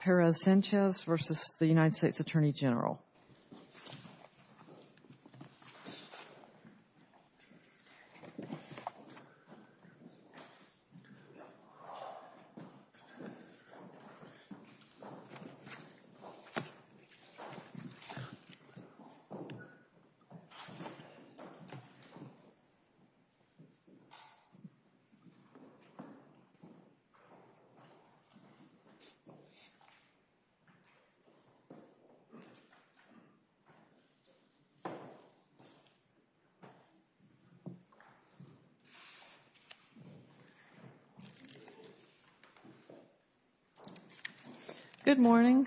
Perez-Sanchez v. U.S. Attorney General Good morning.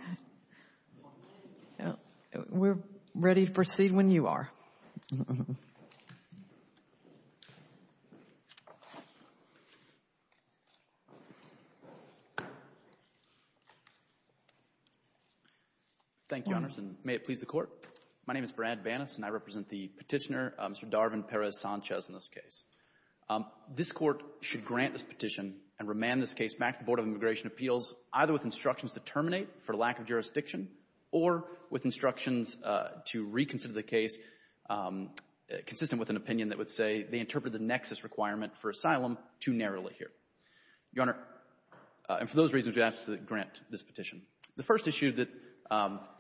We're ready to proceed when you are. Thank you, Your Honors, and may it please the Court, my name is Brad Bannas and I represent the petitioner, Mr. Darvin Perez-Sanchez, in this case. This Court should grant this petition and remand this case back to the Board of Immigration Appeals either with instructions to terminate for lack of jurisdiction or with instructions to reconsider the case consistent with an opinion that would say they interpret the nexus requirement for asylum too narrowly here. Your Honor, and for those reasons, we ask that you grant this petition. The first issue that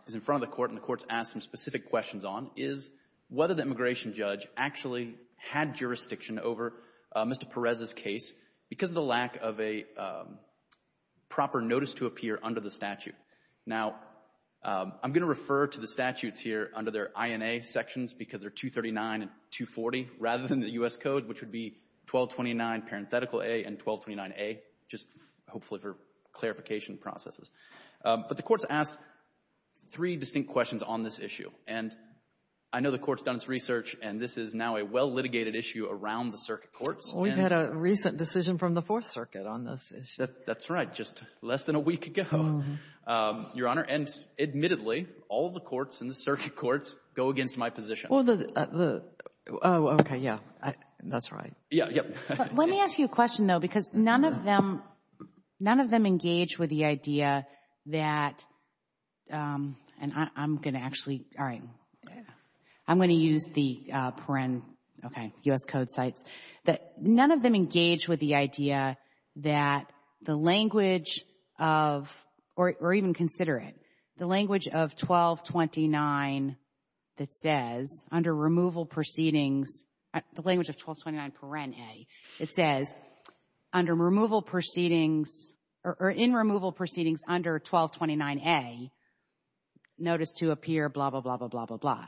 is in front of the Court and the Court has asked some specific questions on is whether the immigration judge actually had jurisdiction over Mr. Perez's case because of the lack of a proper notice to appear under the statute. Now, I'm going to refer to the statutes here under their INA sections because they're 239 and 240 rather than the U.S. Code, which would be 1229 parenthetical A and 1229A, just hopefully for clarification processes. But the Court has asked three distinct questions on this issue. And I know the Court has done its research and this is now a well-litigated issue around the circuit courts. We've had a recent decision from the Fourth Circuit on this issue. That's right, just less than a week ago, Your Honor. And admittedly, all the courts in the circuit courts go against my position. Well, the – oh, okay, yeah, that's right. Yeah, yeah. Let me ask you a question, though, because none of them – none of them engage with the idea that – and I'm going to actually – all right, I'm going to use the paren – okay, U.S. Code sites – that none of them engage with the idea that the language of – or even consider it – the language of 1229 that says, under removal proceedings – the language of 1229 paren A, it says, under removal proceedings – or in removal proceedings under 1229 A, notice to appear blah, blah, blah, blah, blah, blah.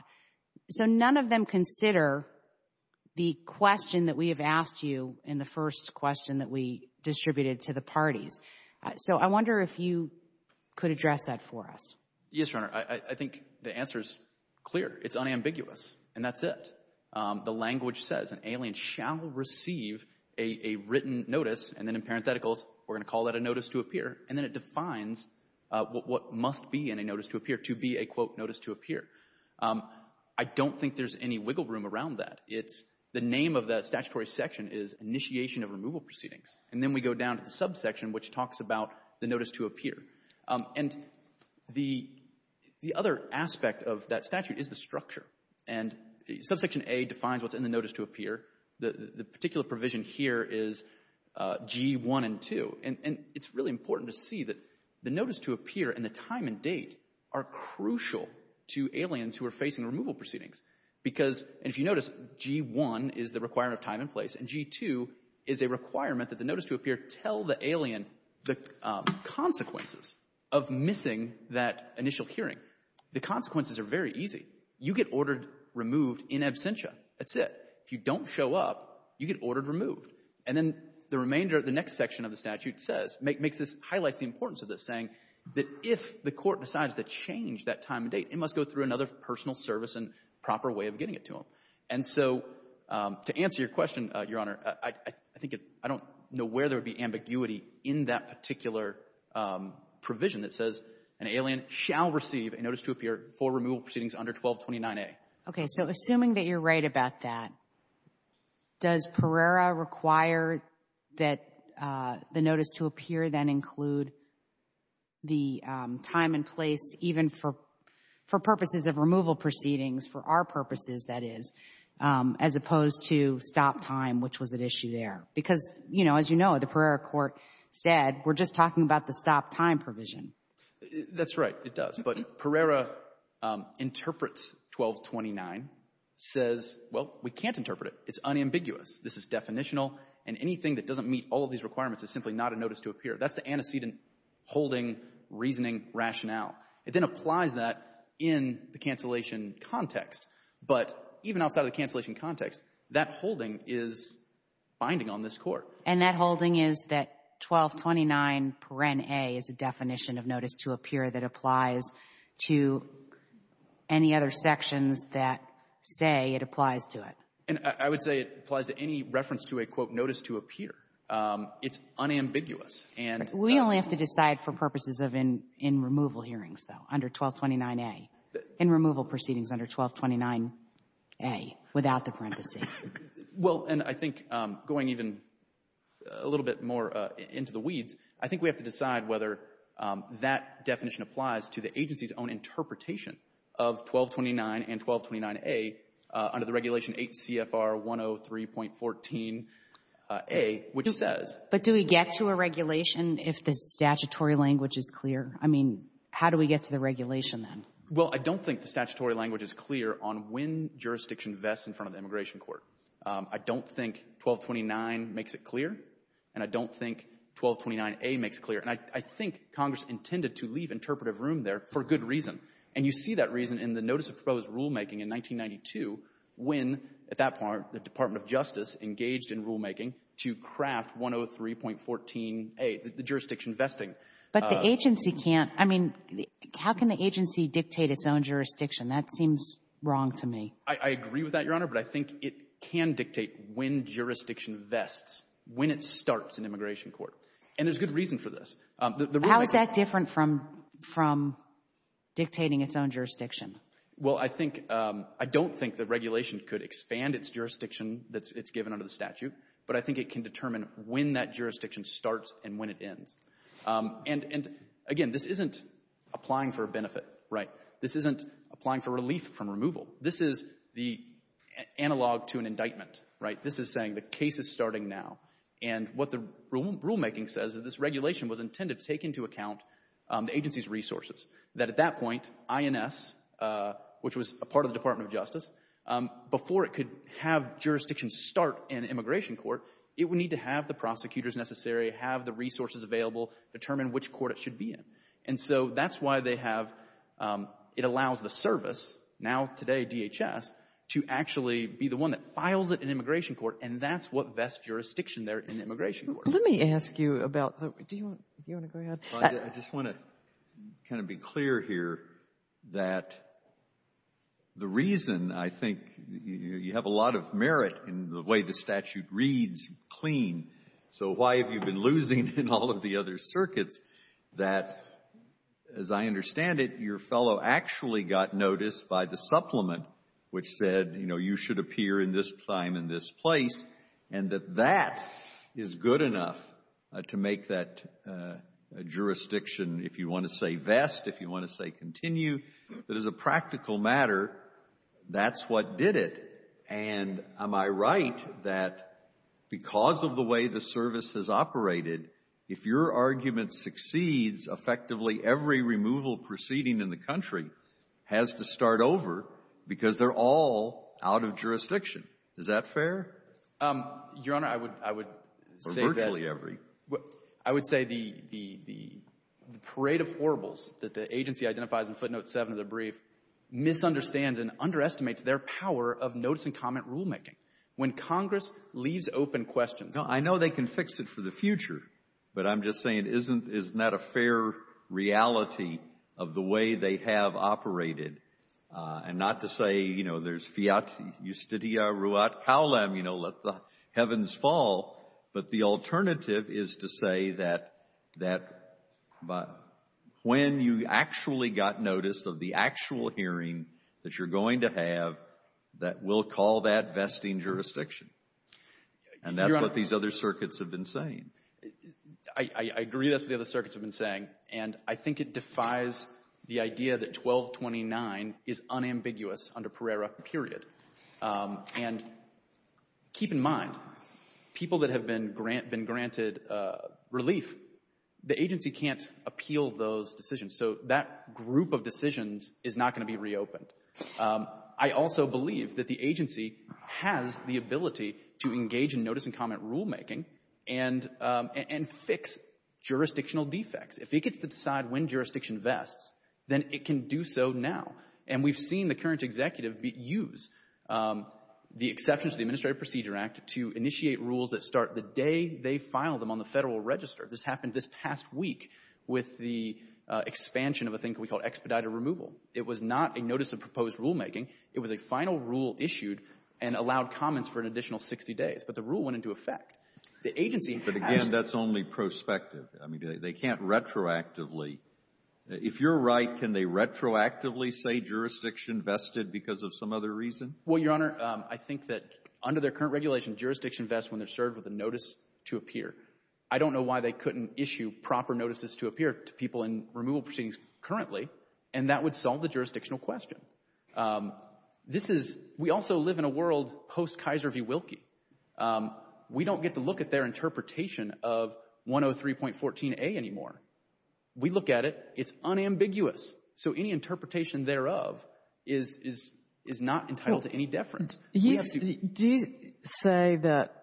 So none of them consider the question that we have asked you in the first question that we distributed to the parties. So I wonder if you could address that for us. Yes, Your Honor. I think the answer is clear. It's unambiguous, and that's it. The language says an alien shall receive a written notice, and then in parentheticals, we're going to call that a notice to appear, and then it defines what must be in a notice to appear to be a, quote, notice to appear. I don't think there's any wiggle room around that. It's – the name of that statutory section is initiation of removal proceedings, and then we go down to the subsection, which talks about the notice to appear. And the other aspect of that statute is the structure, and subsection A defines what's in the notice to appear. The particular provision here is G1 and 2, and it's really important to see that the G1 and 2 are crucial to aliens who are facing removal proceedings, because if you notice, G1 is the requirement of time and place, and G2 is a requirement that the notice to appear tell the alien the consequences of missing that initial hearing. The consequences are very easy. You get ordered removed in absentia. That's it. If you don't show up, you get ordered removed. And then the remainder of the next section of the statute says – makes this – highlights the importance of this, saying that if the court decides to change that time and date, it must go through another personal service and proper way of getting it to them. And so to answer your question, Your Honor, I think it – I don't know where there would be ambiguity in that particular provision that says an alien shall receive a notice to appear for removal proceedings under 1229A. Okay. So assuming that you're right about that, does Pereira require that the notice to appear then include the time and place, even for purposes of removal proceedings, for our purposes, that is, as opposed to stop time, which was at issue there? Because, you know, as you know, the Pereira court said, we're just talking about the stop time provision. That's right. It does. But Pereira interprets 1229, says, well, we can't interpret it. It's unambiguous. This is definitional, and anything that doesn't meet all of these requirements is simply not a notice to appear. That's the antecedent holding reasoning rationale. It then applies that in the cancellation context. But even outside of the cancellation context, that holding is binding on this Court. And that holding is that 1229, paren a, is a definition of notice to appear that applies to any other sections that say it applies to it. And I would say it applies to any reference to a, quote, notice to appear. It's unambiguous. And we only have to decide for purposes of in removal hearings, though, under 1229a, in removal proceedings under 1229a, without the parentheses. Well, and I think going even a little bit more into the weeds, I think we have to decide whether that definition applies to the agency's own interpretation of 1229 and 1229a under the Regulation 8 CFR 103.14a, which says — But do we get to a regulation if the statutory language is clear? I mean, how do we get to the regulation, then? Well, I don't think the statutory language is clear on when jurisdiction vests in front of the immigration court. I don't think 1229 makes it clear, and I don't think 1229a makes it clear. And I think Congress intended to leave interpretive room there for good reason. And you see that reason in the notice of proposed rulemaking in 1992 when, at that point, the Department of Justice engaged in rulemaking to craft 103.14a, the jurisdiction vesting. But the agency can't — I mean, how can the agency dictate its own jurisdiction? That seems wrong to me. I agree with that, Your Honor, but I think it can dictate when jurisdiction vests, when it starts in immigration court. And there's good reason for this. How is that different from dictating its own jurisdiction? Well, I think — I don't think the regulation could expand its jurisdiction that's given under the statute, but I think it can determine when that jurisdiction starts and when it ends. And, again, this isn't applying for a benefit, right? This isn't applying for relief from removal. This is the analog to an indictment, right? This is saying the case is starting now. And what the rulemaking says is this regulation was intended to take into account the agency's resources, that at that point, INS, which was a part of the Department of Justice, before it could have jurisdiction start in immigration court, it would need to have the prosecutors necessary, have the resources available, determine which court it should be in. And so that's why they have — it allows the service, now today DHS, to actually be the one that files it in immigration court. And that's what vests jurisdiction there in immigration court. Let me ask you about — do you want to go ahead? I just want to kind of be clear here that the reason I think you have a lot of merit in the way the statute reads clean, so why have you been losing in all of the other circuits, that, as I understand it, your fellow actually got noticed by the supplement which said, you know, you should appear in this time and this place, and that that is good enough to make that jurisdiction, if you want to say vest, if you want to say continue, that is a practical matter, that's what did it. And am I right that because of the way the service has operated, if your argument succeeds, effectively every removal proceeding in the country has to start over because they're all out of jurisdiction? Is that fair? Your Honor, I would — Or virtually every. I would say the parade of horribles that the agency identifies in footnote 7 of the brief misunderstands and underestimates their power of notice and comment rulemaking. When Congress leaves open questions — No, I know they can fix it for the future, but I'm just saying, isn't that a fair reality of the way they have operated? And not to say, you know, there's fiat iustitia ruat caulem, you know, let the heavens fall, but the alternative is to say that when you actually got notice of the actual hearing that you're going to have, that we'll call that vesting jurisdiction. And that's what these other circuits have been saying. I agree that's what the other circuits have been saying. And I think it defies the idea that 1229 is unambiguous under Pereira, period. And keep in mind, people that have been granted relief, the agency can't appeal those decisions, so that group of decisions is not going to be reopened. I also believe that the agency has the ability to engage in notice and comment rulemaking and fix jurisdictional defects. If it gets to decide when jurisdiction vests, then it can do so now. And we've seen the current executive use the exceptions to the Administrative Procedure Act to initiate rules that start the day they file them on the Federal Register. This happened this past week with the expansion of a thing we call expedited removal. It was not a notice of proposed rulemaking. It was a final rule issued and allowed comments for an additional 60 days. But the rule went into effect. The agency has to be able to do that. But again, that's only prospective. I mean, they can't retroactively. If you're right, can they retroactively say jurisdiction vested because of some other reason? Well, Your Honor, I think that under their current regulation, jurisdiction vests when they're served with a notice to appear. I don't know why they couldn't issue proper notices to appear to people in removal proceedings currently. And that would solve the jurisdictional question. This is, we also live in a world post-Kaiser v. Wilkie. We don't get to look at their interpretation of 103.14a anymore. We look at it. It's unambiguous. So any interpretation thereof is not entitled to any deference. Do you say that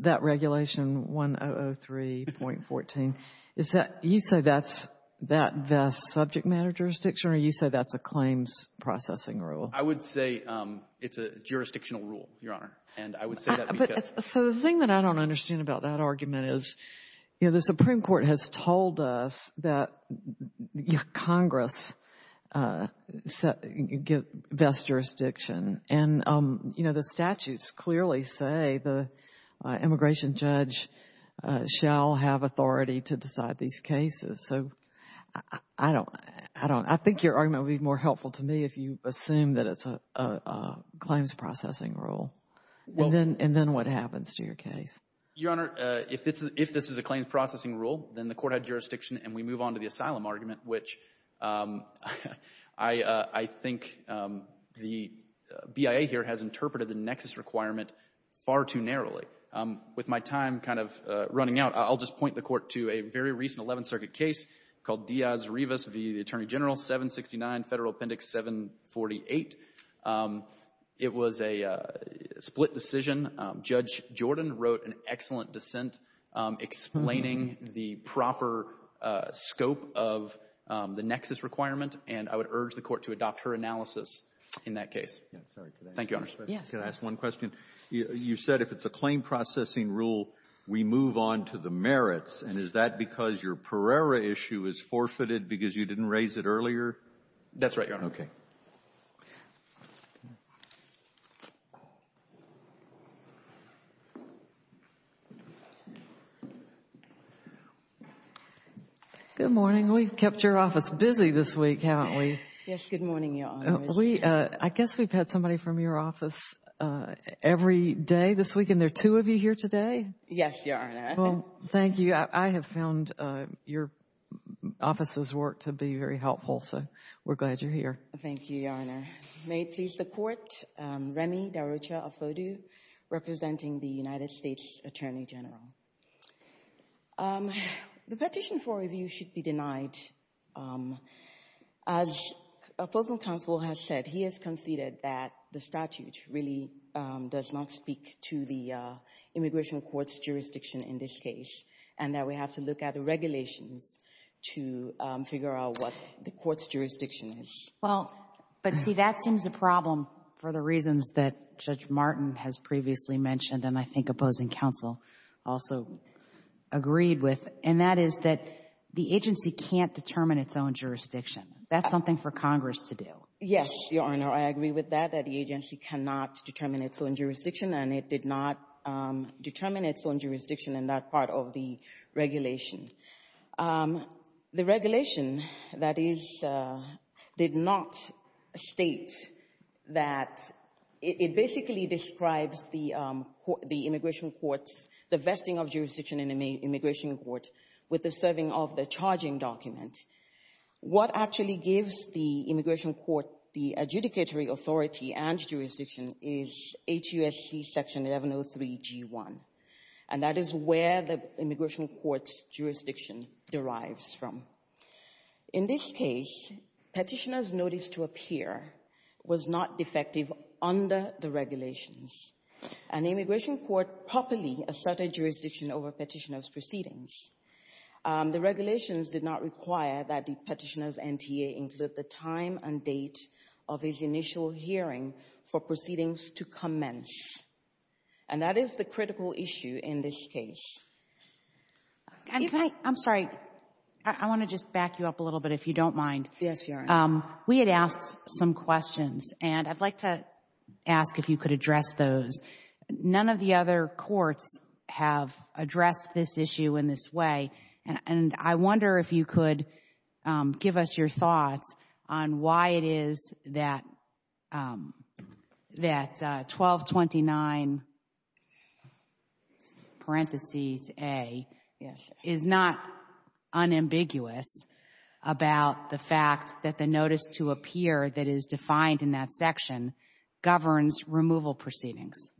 that regulation, 1003.14, is that, you say that's that vest subject matter jurisdiction, or you say that's a claims processing rule? I would say it's a jurisdictional rule, Your Honor. And I would say that because So the thing that I don't understand about that argument is, you know, the Supreme Court has told us that Congress vests jurisdiction. And, you know, the statutes clearly say the immigration judge shall have authority to decide these cases. So I don't, I don't, I think your argument would be more helpful to me if you assume that it's a claims processing rule, and then what happens to your case? Your Honor, if this is a claims processing rule, then the court had jurisdiction and we move on to the asylum argument, which I think the BIA here has interpreted the nexus requirement far too narrowly. With my time kind of running out, I'll just point the court to a very recent 11th century case called Diaz-Rivas v. the Attorney General, 769 Federal Appendix 748. It was a split decision. Judge Jordan wrote an excellent dissent explaining the proper scope of the nexus requirement, and I would urge the court to adopt her analysis in that case. Thank you, Your Honor. Yes. Can I ask one question? You said if it's a claim processing rule, we move on to the merits, and is that because your Pereira issue is forfeited because you didn't raise it earlier? That's right, Your Honor. Okay. Good morning. We've kept your office busy this week, haven't we? Yes. Good morning, Your Honor. I guess we've had somebody from your office every day this week, and there are two of you here today? Yes, Your Honor. Well, thank you. I have found your office's work to be very helpful, so we're glad you're here. Thank you, Your Honor. May it please the court, Remy Darucha Afodu, representing the United States Attorney General. The petition for review should be denied. As Opposing Counsel has said, he has conceded that the statute really does not speak to the immigration court's jurisdiction in this case, and that we have to look at the regulations to figure out what the court's jurisdiction is. Well, but see, that seems a problem for the reasons that Judge Martin has previously mentioned and I think Opposing Counsel also agreed with, and that is that the agency can't determine its own jurisdiction. That's something for Congress to do. Yes, Your Honor. I agree with that, that the agency cannot determine its own jurisdiction, and it did not determine its own jurisdiction in that part of the regulation. The regulation, that is, did not state that it basically describes the immigration court's divesting of jurisdiction in the immigration court with the serving of the charging document. What actually gives the immigration court the adjudicatory authority and jurisdiction is HUSC Section 1103G1, and that is where the immigration court's jurisdiction derives from. In this case, Petitioner's Notice to Appear was not defective under the regulations, and the immigration court properly asserted jurisdiction over Petitioner's proceedings. The regulations did not require that the Petitioner's NTA include the time and date of his initial hearing for proceedings to commence, and that is the critical issue in this case. I'm sorry, I want to just back you up a little bit, if you don't mind. Yes, Your Honor. We had asked some questions, and I'd like to ask if you could address those. None of the other courts have addressed this issue in this way, and I wonder if you could give us your thoughts on why it is that 1229, parentheses, A, is not unambiguous about the fact that the Notice to Appear that is defined in that section governs removal proceedings.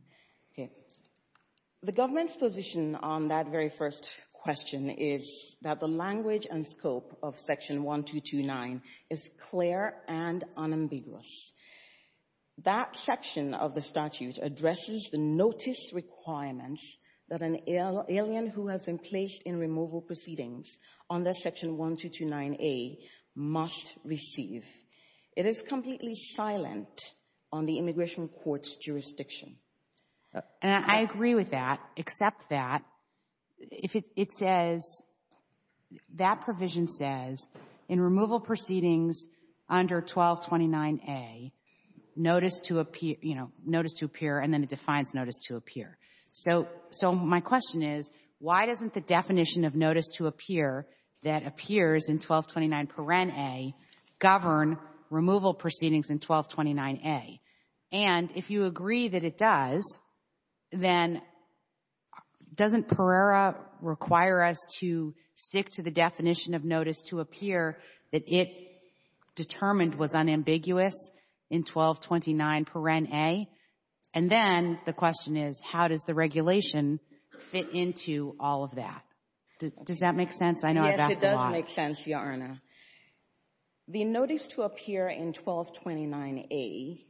The government's position on that very first question is that the language and scope of Section 1229 is clear and unambiguous. That section of the statute addresses the notice requirements that an alien who has been placed in removal proceedings under Section 1229A must receive. It is completely silent on the immigration court's jurisdiction. And I agree with that, except that if it says, that provision says, in removal proceedings under 1229A, Notice to Appear, and then it defines Notice to Appear. So my question is, why doesn't the definition of Notice to Appear that appears in 1229, parentheses, A, govern removal proceedings in 1229A? And if you agree that it does, then doesn't Perera require us to stick to the definition of Notice to Appear that it determined was unambiguous in 1229, parentheses, A? And then the question is, how does the regulation fit into all of that? Does that make sense? I know I've asked a lot. Yes, it does make sense, Your Honor. The Notice to Appear in 1229A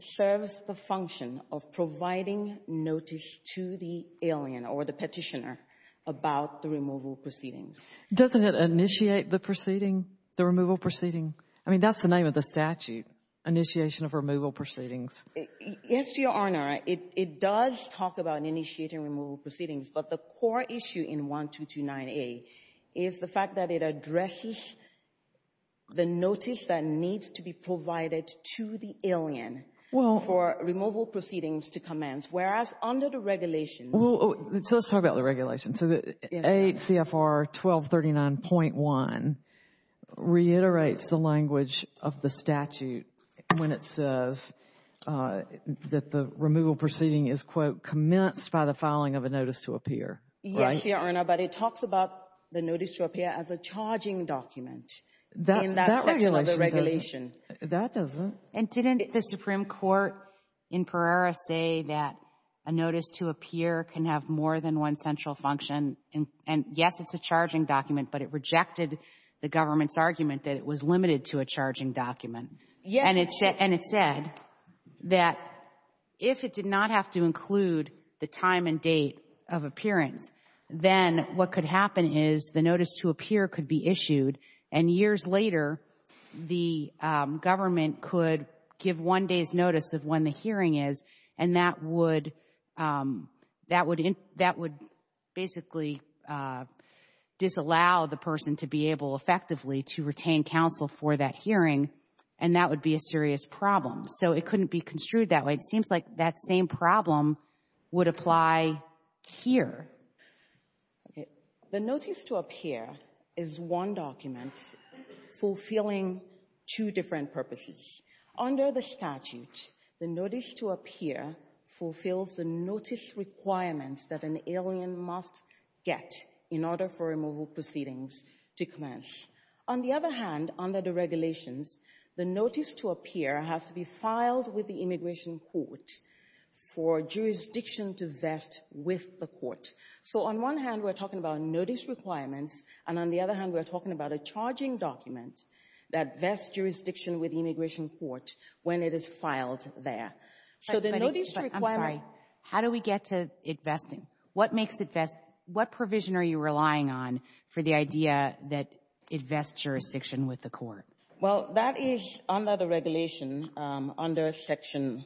serves the function of providing notice to the alien or the petitioner about the removal proceedings. Doesn't it initiate the proceeding, the removal proceeding? I mean, that's the name of the statute, Initiation of Removal Proceedings. Yes, Your Honor. It does talk about initiating removal proceedings, but the core issue in 1229A is the fact that it addresses the notice that needs to be provided to the alien for removal proceedings to commence, whereas under the regulations. So let's talk about the regulations. So the 8 CFR 1239.1 reiterates the language of the statute when it says that the removal proceeding is, quote, commenced by the filing of a Notice to Appear, right? Yes, Your Honor, but it talks about the Notice to Appear as a charging document. That regulation doesn't. In that section of the regulation. That doesn't. And didn't the Supreme Court in Pereira say that a Notice to Appear can have more than one central function? And yes, it's a charging document, but it rejected the government's argument that it was limited to a charging document. And it said that if it did not have to include the time and date of appearance, then what could happen is the Notice to Appear could be issued and years later, the government could give one day's notice of when the hearing is. And that would basically disallow the person to be able effectively to retain counsel for that hearing. And that would be a serious problem. So it couldn't be construed that way. It seems like that same problem would apply here. Okay. The Notice to Appear is one document fulfilling two different purposes. Under the statute, the Notice to Appear fulfills the notice requirements that an alien must get in order for removal proceedings to commence. On the other hand, under the regulations, the Notice to Appear has to be filed with the immigration court for jurisdiction to So on one hand, we're talking about notice requirements. And on the other hand, we're talking about a charging document that vests jurisdiction with the immigration court when it is filed there. So the notice requirement... I'm sorry. How do we get to it vesting? What makes it vesting? What provision are you relying on for the idea that it vests jurisdiction with the court? Well, that is under the regulation under Section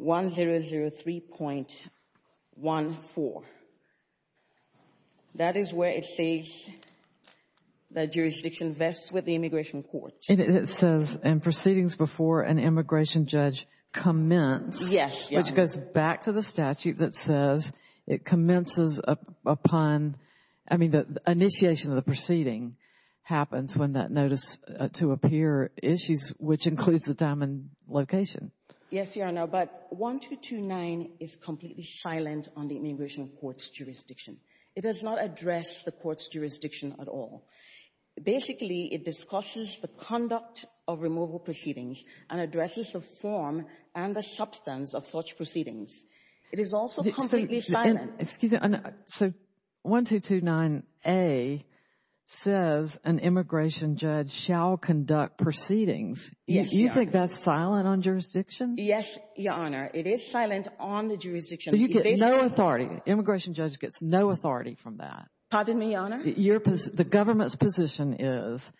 1003.14. That is where it says that jurisdiction vests with the immigration court. And it says in proceedings before an immigration judge commenced, which goes back to the statute that says it commences upon... I mean, the initiation of the proceeding happens when that Notice to Appear issues, which includes the diamond location. Yes, Your Honor. But 1229 is completely silent on the immigration court's jurisdiction. It does not address the court's jurisdiction at all. Basically, it discusses the conduct of removal proceedings and addresses the form and the substance of such proceedings. It is also completely silent. Excuse me. So 1229A says an immigration judge shall conduct proceedings. Do you think that's silent on jurisdiction? Yes, Your Honor. It is silent on the jurisdiction. You get no authority. Immigration judge gets no authority from that. Pardon me, Your Honor? The government's position is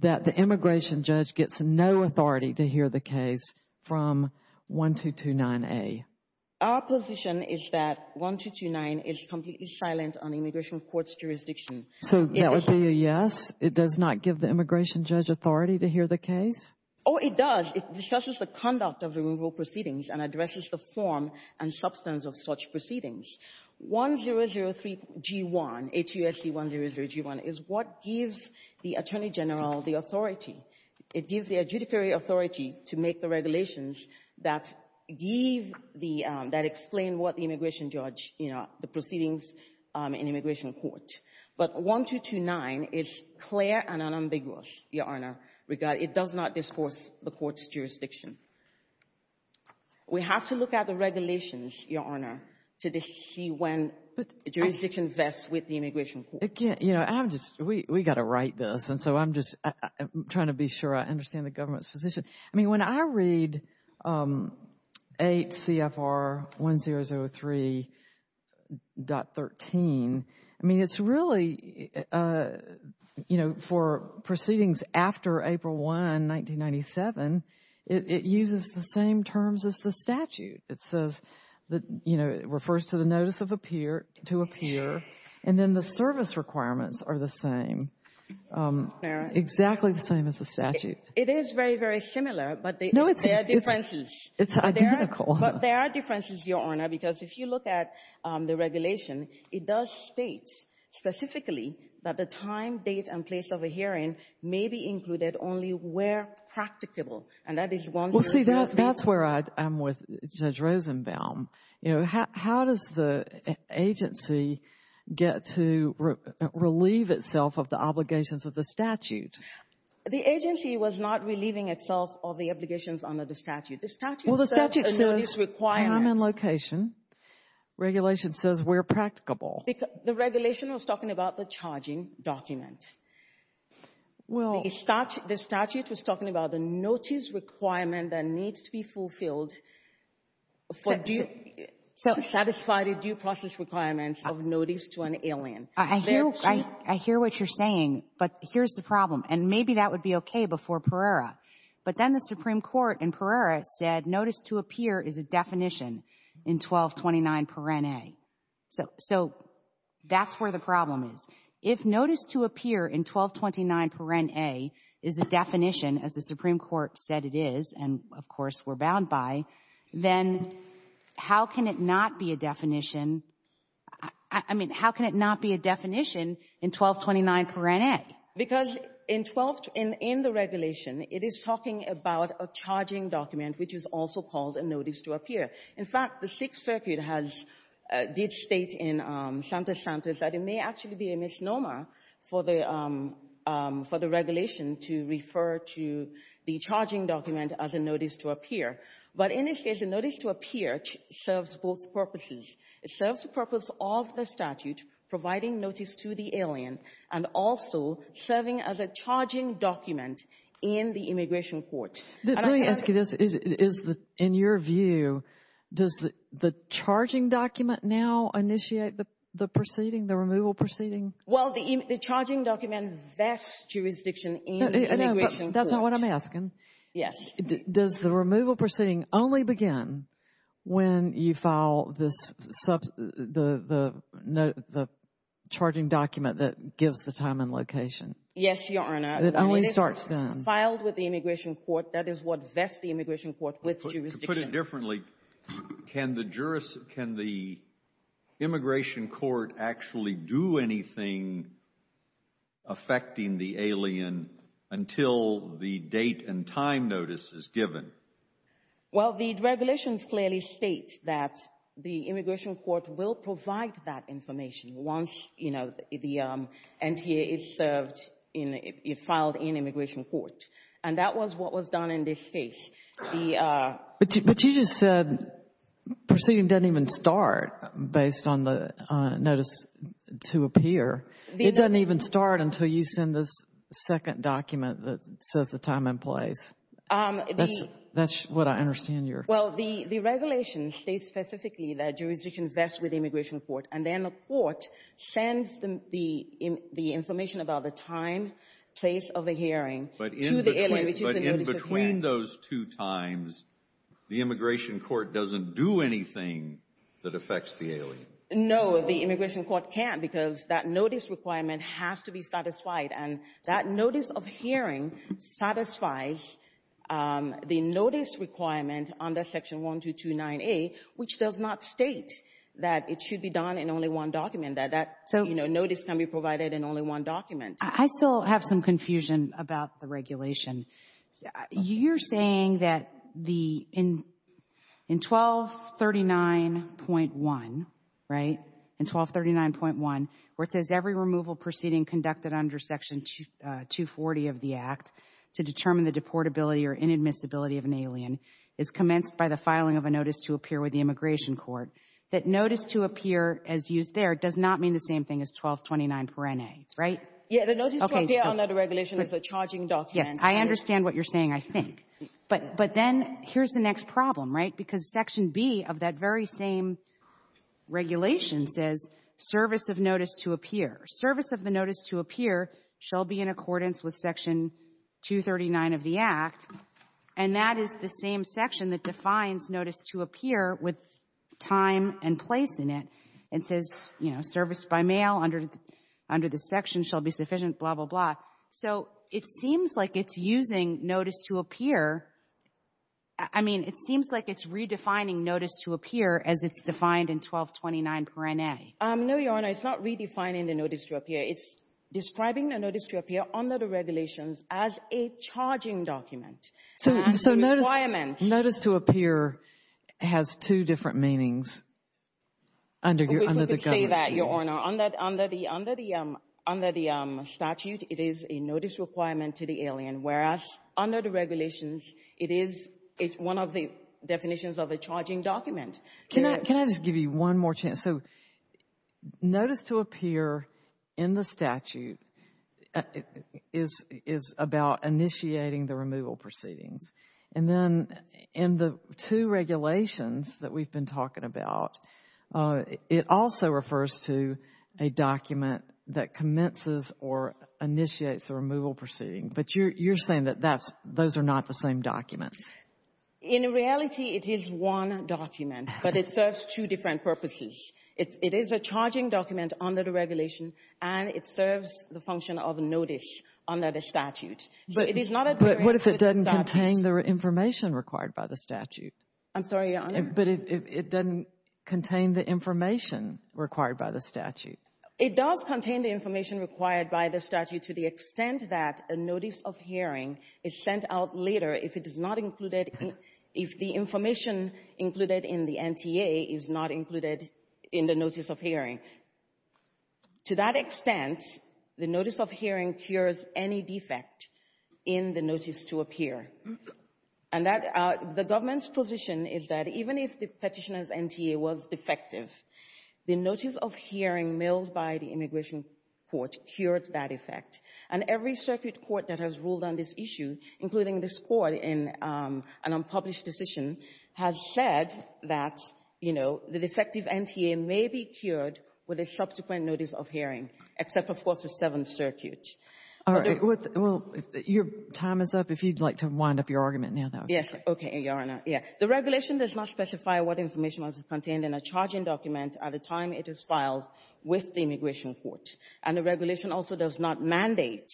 that the immigration judge gets no authority to hear the case from 1229A. Our position is that 1229 is completely silent on immigration court's jurisdiction. So that would be a yes? It does not give the immigration judge authority to hear the case? Oh, it does. It discusses the conduct of removal proceedings and addresses the form and substance of such proceedings. 1003G1, HUSC 1003G1, is what gives the Attorney General the authority. It gives the adjudicatory authority to make the regulations that give the — that explain what the immigration judge, you know, the proceedings in immigration court. But 1229 is clear and unambiguous, Your Honor. It does not discourse the court's jurisdiction. We have to look at the regulations, Your Honor, to see when the jurisdiction vests with the immigration court. Again, you know, I'm just — we got to write this, and so I'm just trying to be sure I understand the government's position. I mean, when I read 8 CFR 1003.13, I mean, it's really, you know, for proceedings after April 1, 1997, it uses the same terms as the statute. It says that, you know, it refers to the notice of appear to appear, and then the service requirements are the same, exactly the same as the statute. It is very, very similar, but there are differences. No, it's identical. But there are differences, Your Honor, because if you look at the regulation, it does state specifically that the time, date, and place of a hearing may be included only where practicable, and that is once — Well, see, that's where I'm with Judge Rosenbaum. You know, how does the agency get to relieve itself of the obligations of the statute? The agency was not relieving itself of the obligations under the statute. The statute says a notice requires — Well, the statute says time and location. Regulation says where practicable. The regulation was talking about the charging document. Well — The statute was talking about the notice requirement that needs to be fulfilled for due — to satisfy the due process requirements of notice to an alien. I hear — I hear what you're saying, but here's the problem, and maybe that would be okay before Pereira. But then the Supreme Court in Pereira said notice to appear is a definition in 1229 paren a. So that's where the problem is. If notice to appear in 1229 paren a is a definition, as the Supreme Court said it is, and, of course, we're bound by, then how can it not be a definition — I mean, how can it not be a definition in 1229 paren a? Because in 12 — in the regulation, it is talking about a charging document, which is also called a notice to appear. In fact, the Sixth Circuit has — did state in Santa Santa's that it may actually be a misnomer for the — for the regulation to refer to the charging document as a notice to appear. But in this case, a notice to appear serves both purposes. It serves the purpose of the statute providing notice to the alien and also serving as a charging document in the immigration court. Let me ask you this. Is — in your view, does the charging document now initiate the proceeding, the removal proceeding? Well, the charging document vests jurisdiction in the immigration court. That's not what I'm asking. Yes. Does the removal proceeding only begin when you file this — the charging document that gives the time and location? Yes, Your Honor. It only starts then. Filed with the immigration court. That is what vests the immigration court with jurisdiction. To put it differently, can the — can the immigration court actually do anything affecting the alien until the date and time notice is given? Well, the regulations clearly state that the immigration court will provide that information once, you know, the NTA is served in — is filed in immigration court. And that was what was done in this case. The — But you just said proceeding doesn't even start based on the notice to appear. It doesn't even start until you send this second document that says the time and place. That's — that's what I understand your — Well, the — the regulation states specifically that jurisdiction vests with the immigration court, and then the court sends the — the information about the time, place of the In between those two times, the immigration court doesn't do anything that affects the alien. No, the immigration court can't, because that notice requirement has to be satisfied. And that notice of hearing satisfies the notice requirement under Section 1229A, which does not state that it should be done in only one document, that that, you know, notice can be provided in only one document. I still have some confusion about the regulation. You're saying that the — in 1239.1, right, in 1239.1, where it says every removal proceeding conducted under Section 240 of the Act to determine the deportability or inadmissibility of an alien is commenced by the filing of a notice to appear with the immigration court, that notice to appear as used there does not mean the same thing as 1229 perene, right? Yeah. The notice to appear under the regulation is a charging document. Yes. I understand what you're saying, I think. But then here's the next problem, right? Because Section B of that very same regulation says service of notice to appear. Service of the notice to appear shall be in accordance with Section 239 of the Act, and that is the same section that defines notice to appear with time and place in it and says, you know, service by mail under the section shall be sufficient, blah, blah, blah. So it seems like it's using notice to appear — I mean, it seems like it's redefining notice to appear as it's defined in 1229 perene. No, Your Honor, it's not redefining the notice to appear. It's describing the notice to appear under the regulations as a charging document. So notice to appear has two different meanings under the government's law. I wish we could say that, Your Honor. Under the statute, it is a notice requirement to the alien, whereas under the regulations, it is one of the definitions of a charging document. Can I just give you one more chance? So notice to appear in the statute is about initiating the removal proceedings, and then in the two regulations that we've been talking about, it also refers to a document that commences or initiates the removal proceeding, but you're saying that those are not the same documents. In reality, it is one document, but it serves two different purposes. It is a charging document under the regulations, and it serves the function of a notice under the statute. But what if it doesn't contain the information required by the statute? I'm sorry, Your Honor? But it doesn't contain the information required by the statute? It does contain the information required by the statute to the extent that a notice of hearing is sent out later if it is not included — if the information included in the NTA is not included in the notice of hearing. To that extent, the notice of hearing cures any defect in the notice to appear. And that — the government's position is that even if the petitioner's NTA was defective, the notice of hearing mailed by the immigration court cured that effect. And every circuit court that has ruled on this issue, including this court, in an unpublished decision, has said that, you know, the defective NTA may be cured with a subsequent notice of hearing, except, of course, the Seventh Circuit. All right. Well, your time is up. If you'd like to wind up your argument now, that would be great. Yes. Okay, Your Honor. Yeah. The regulation does not specify what information was contained in a charging document at the time it is filed with the immigration court. And the regulation also does not mandate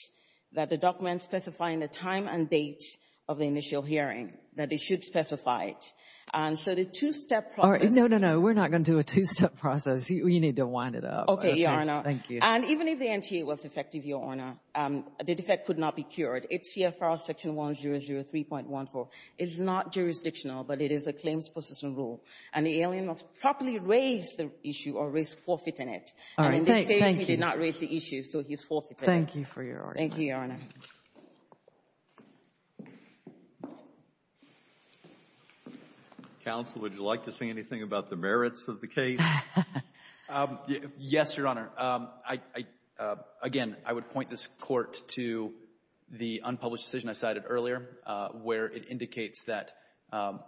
that the document specifying the time and date of the initial hearing, that it should specify it. And so the two-step process — All right. No, no, no. We're not going to do a two-step process. You need to wind it up. Okay, Your Honor. Thank you. And even if the NTA was defective, Your Honor, the defect could not be cured. It's here for Section 1003.14. It's not jurisdictional, but it is a claims possession rule. And the alien must properly raise the issue or risk forfeiting it. All right. Thank you. He did not raise the issue, so he's forfeiting it. Thank you for your argument. Thank you, Your Honor. Counsel, would you like to say anything about the merits of the case? Yes, Your Honor. Again, I would point this Court to the unpublished decision I cited earlier, where it indicates that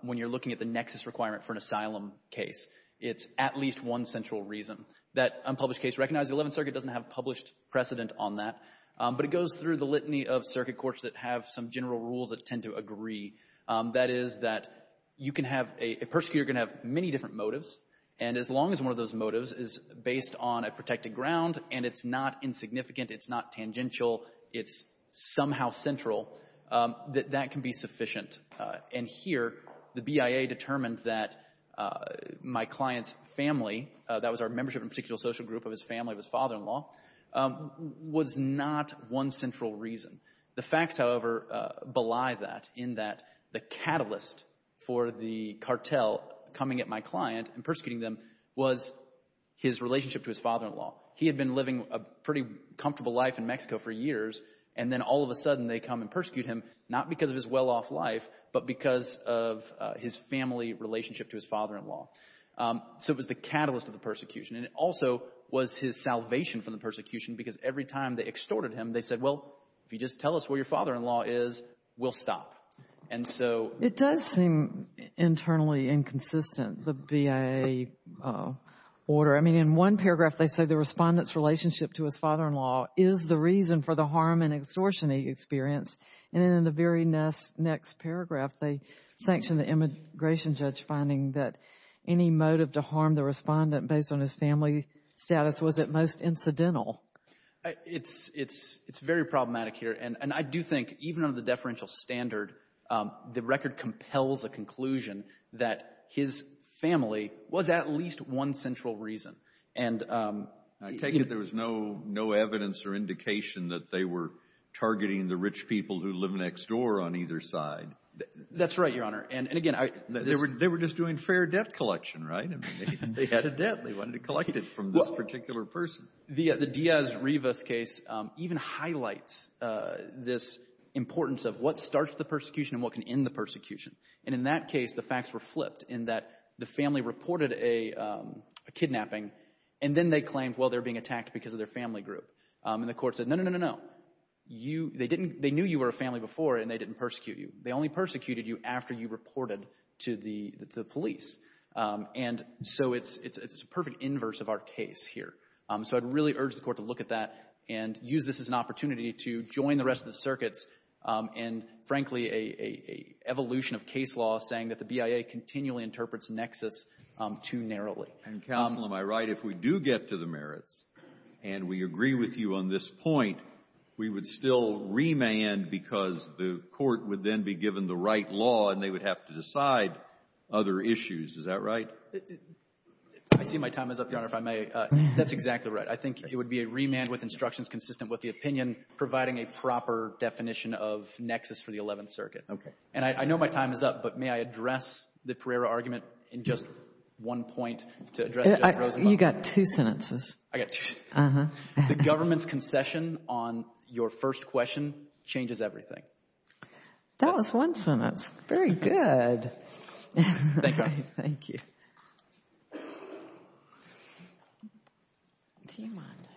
when you're looking at the nexus requirement for an asylum case, it's at least one central reason. That unpublished case recognizes the Eleventh Circuit doesn't have a published precedent on that, but it goes through the litany of circuit courts that have some general rules that tend to agree. That is that you can have a — a prosecutor can have many different motives, and as long as one of those motives is based on a protected ground and it's not insignificant, it's not tangential, it's somehow central, that that can be sufficient. And here, the BIA determined that my client's family — that was our membership in a particular social group of his family, of his father-in-law — was not one central reason. The facts, however, belie that, in that the catalyst for the cartel coming at my client and persecuting them was his relationship to his father-in-law. He had been living a pretty comfortable life in Mexico for years, and then all of a sudden they come and persecute him, not because of his well-off life, but because of his family relationship to his father-in-law. So it was the catalyst of the persecution, and it also was his salvation from the persecution, because every time they extorted him, they said, well, if you just tell us where your father-in-law is, we'll stop. And so — It does seem internally inconsistent, the BIA order. I mean, in one paragraph they say the respondent's relationship to his father-in-law is the reason for the harm and extortion he experienced, and then in the very next paragraph they sanction the immigration judge finding that any motive to harm the respondent based on his family status was at most incidental. It's very problematic here, and I do think even under the deferential standard, the record compels a conclusion that his family was at least one central reason, and — I take it there was no evidence or indication that they were targeting the rich people who live next door on either side. That's right, Your Honor, and again — They were just doing fair debt collection, right? I mean, they had a debt they wanted to collect from this particular person. The Diaz-Rivas case even highlights this importance of what starts the persecution and what can end the persecution, and in that case the facts were flipped in that the family reported a kidnapping, and then they claimed, well, they were being attacked because of their family group, and the court said, no, no, no, no, no. They knew you were a family before, and they didn't persecute you. They only persecuted you after you reported to the police, and so it's a perfect inverse of our case here, so I'd really urge the court to look at that and use this as an opportunity to join the rest of the circuits in, frankly, a evolution of case law saying that the BIA continually interprets nexus too narrowly. And, counsel, am I right if we do get to the merits and we agree with you on this point, we would still remand because the court would then be given the right law and they would have to decide other issues. Is that right? I see my time is up, Your Honor, if I may. That's exactly right. I think it would be a remand with instructions consistent with opinion providing a proper definition of nexus for the Eleventh Circuit. And I know my time is up, but may I address the Pereira argument in just one point to address Judge Rosenblatt? You got two sentences. I got two. The government's concession on your first question changes everything. That was one sentence. Very good. Thank you, Your Honor. Thank you.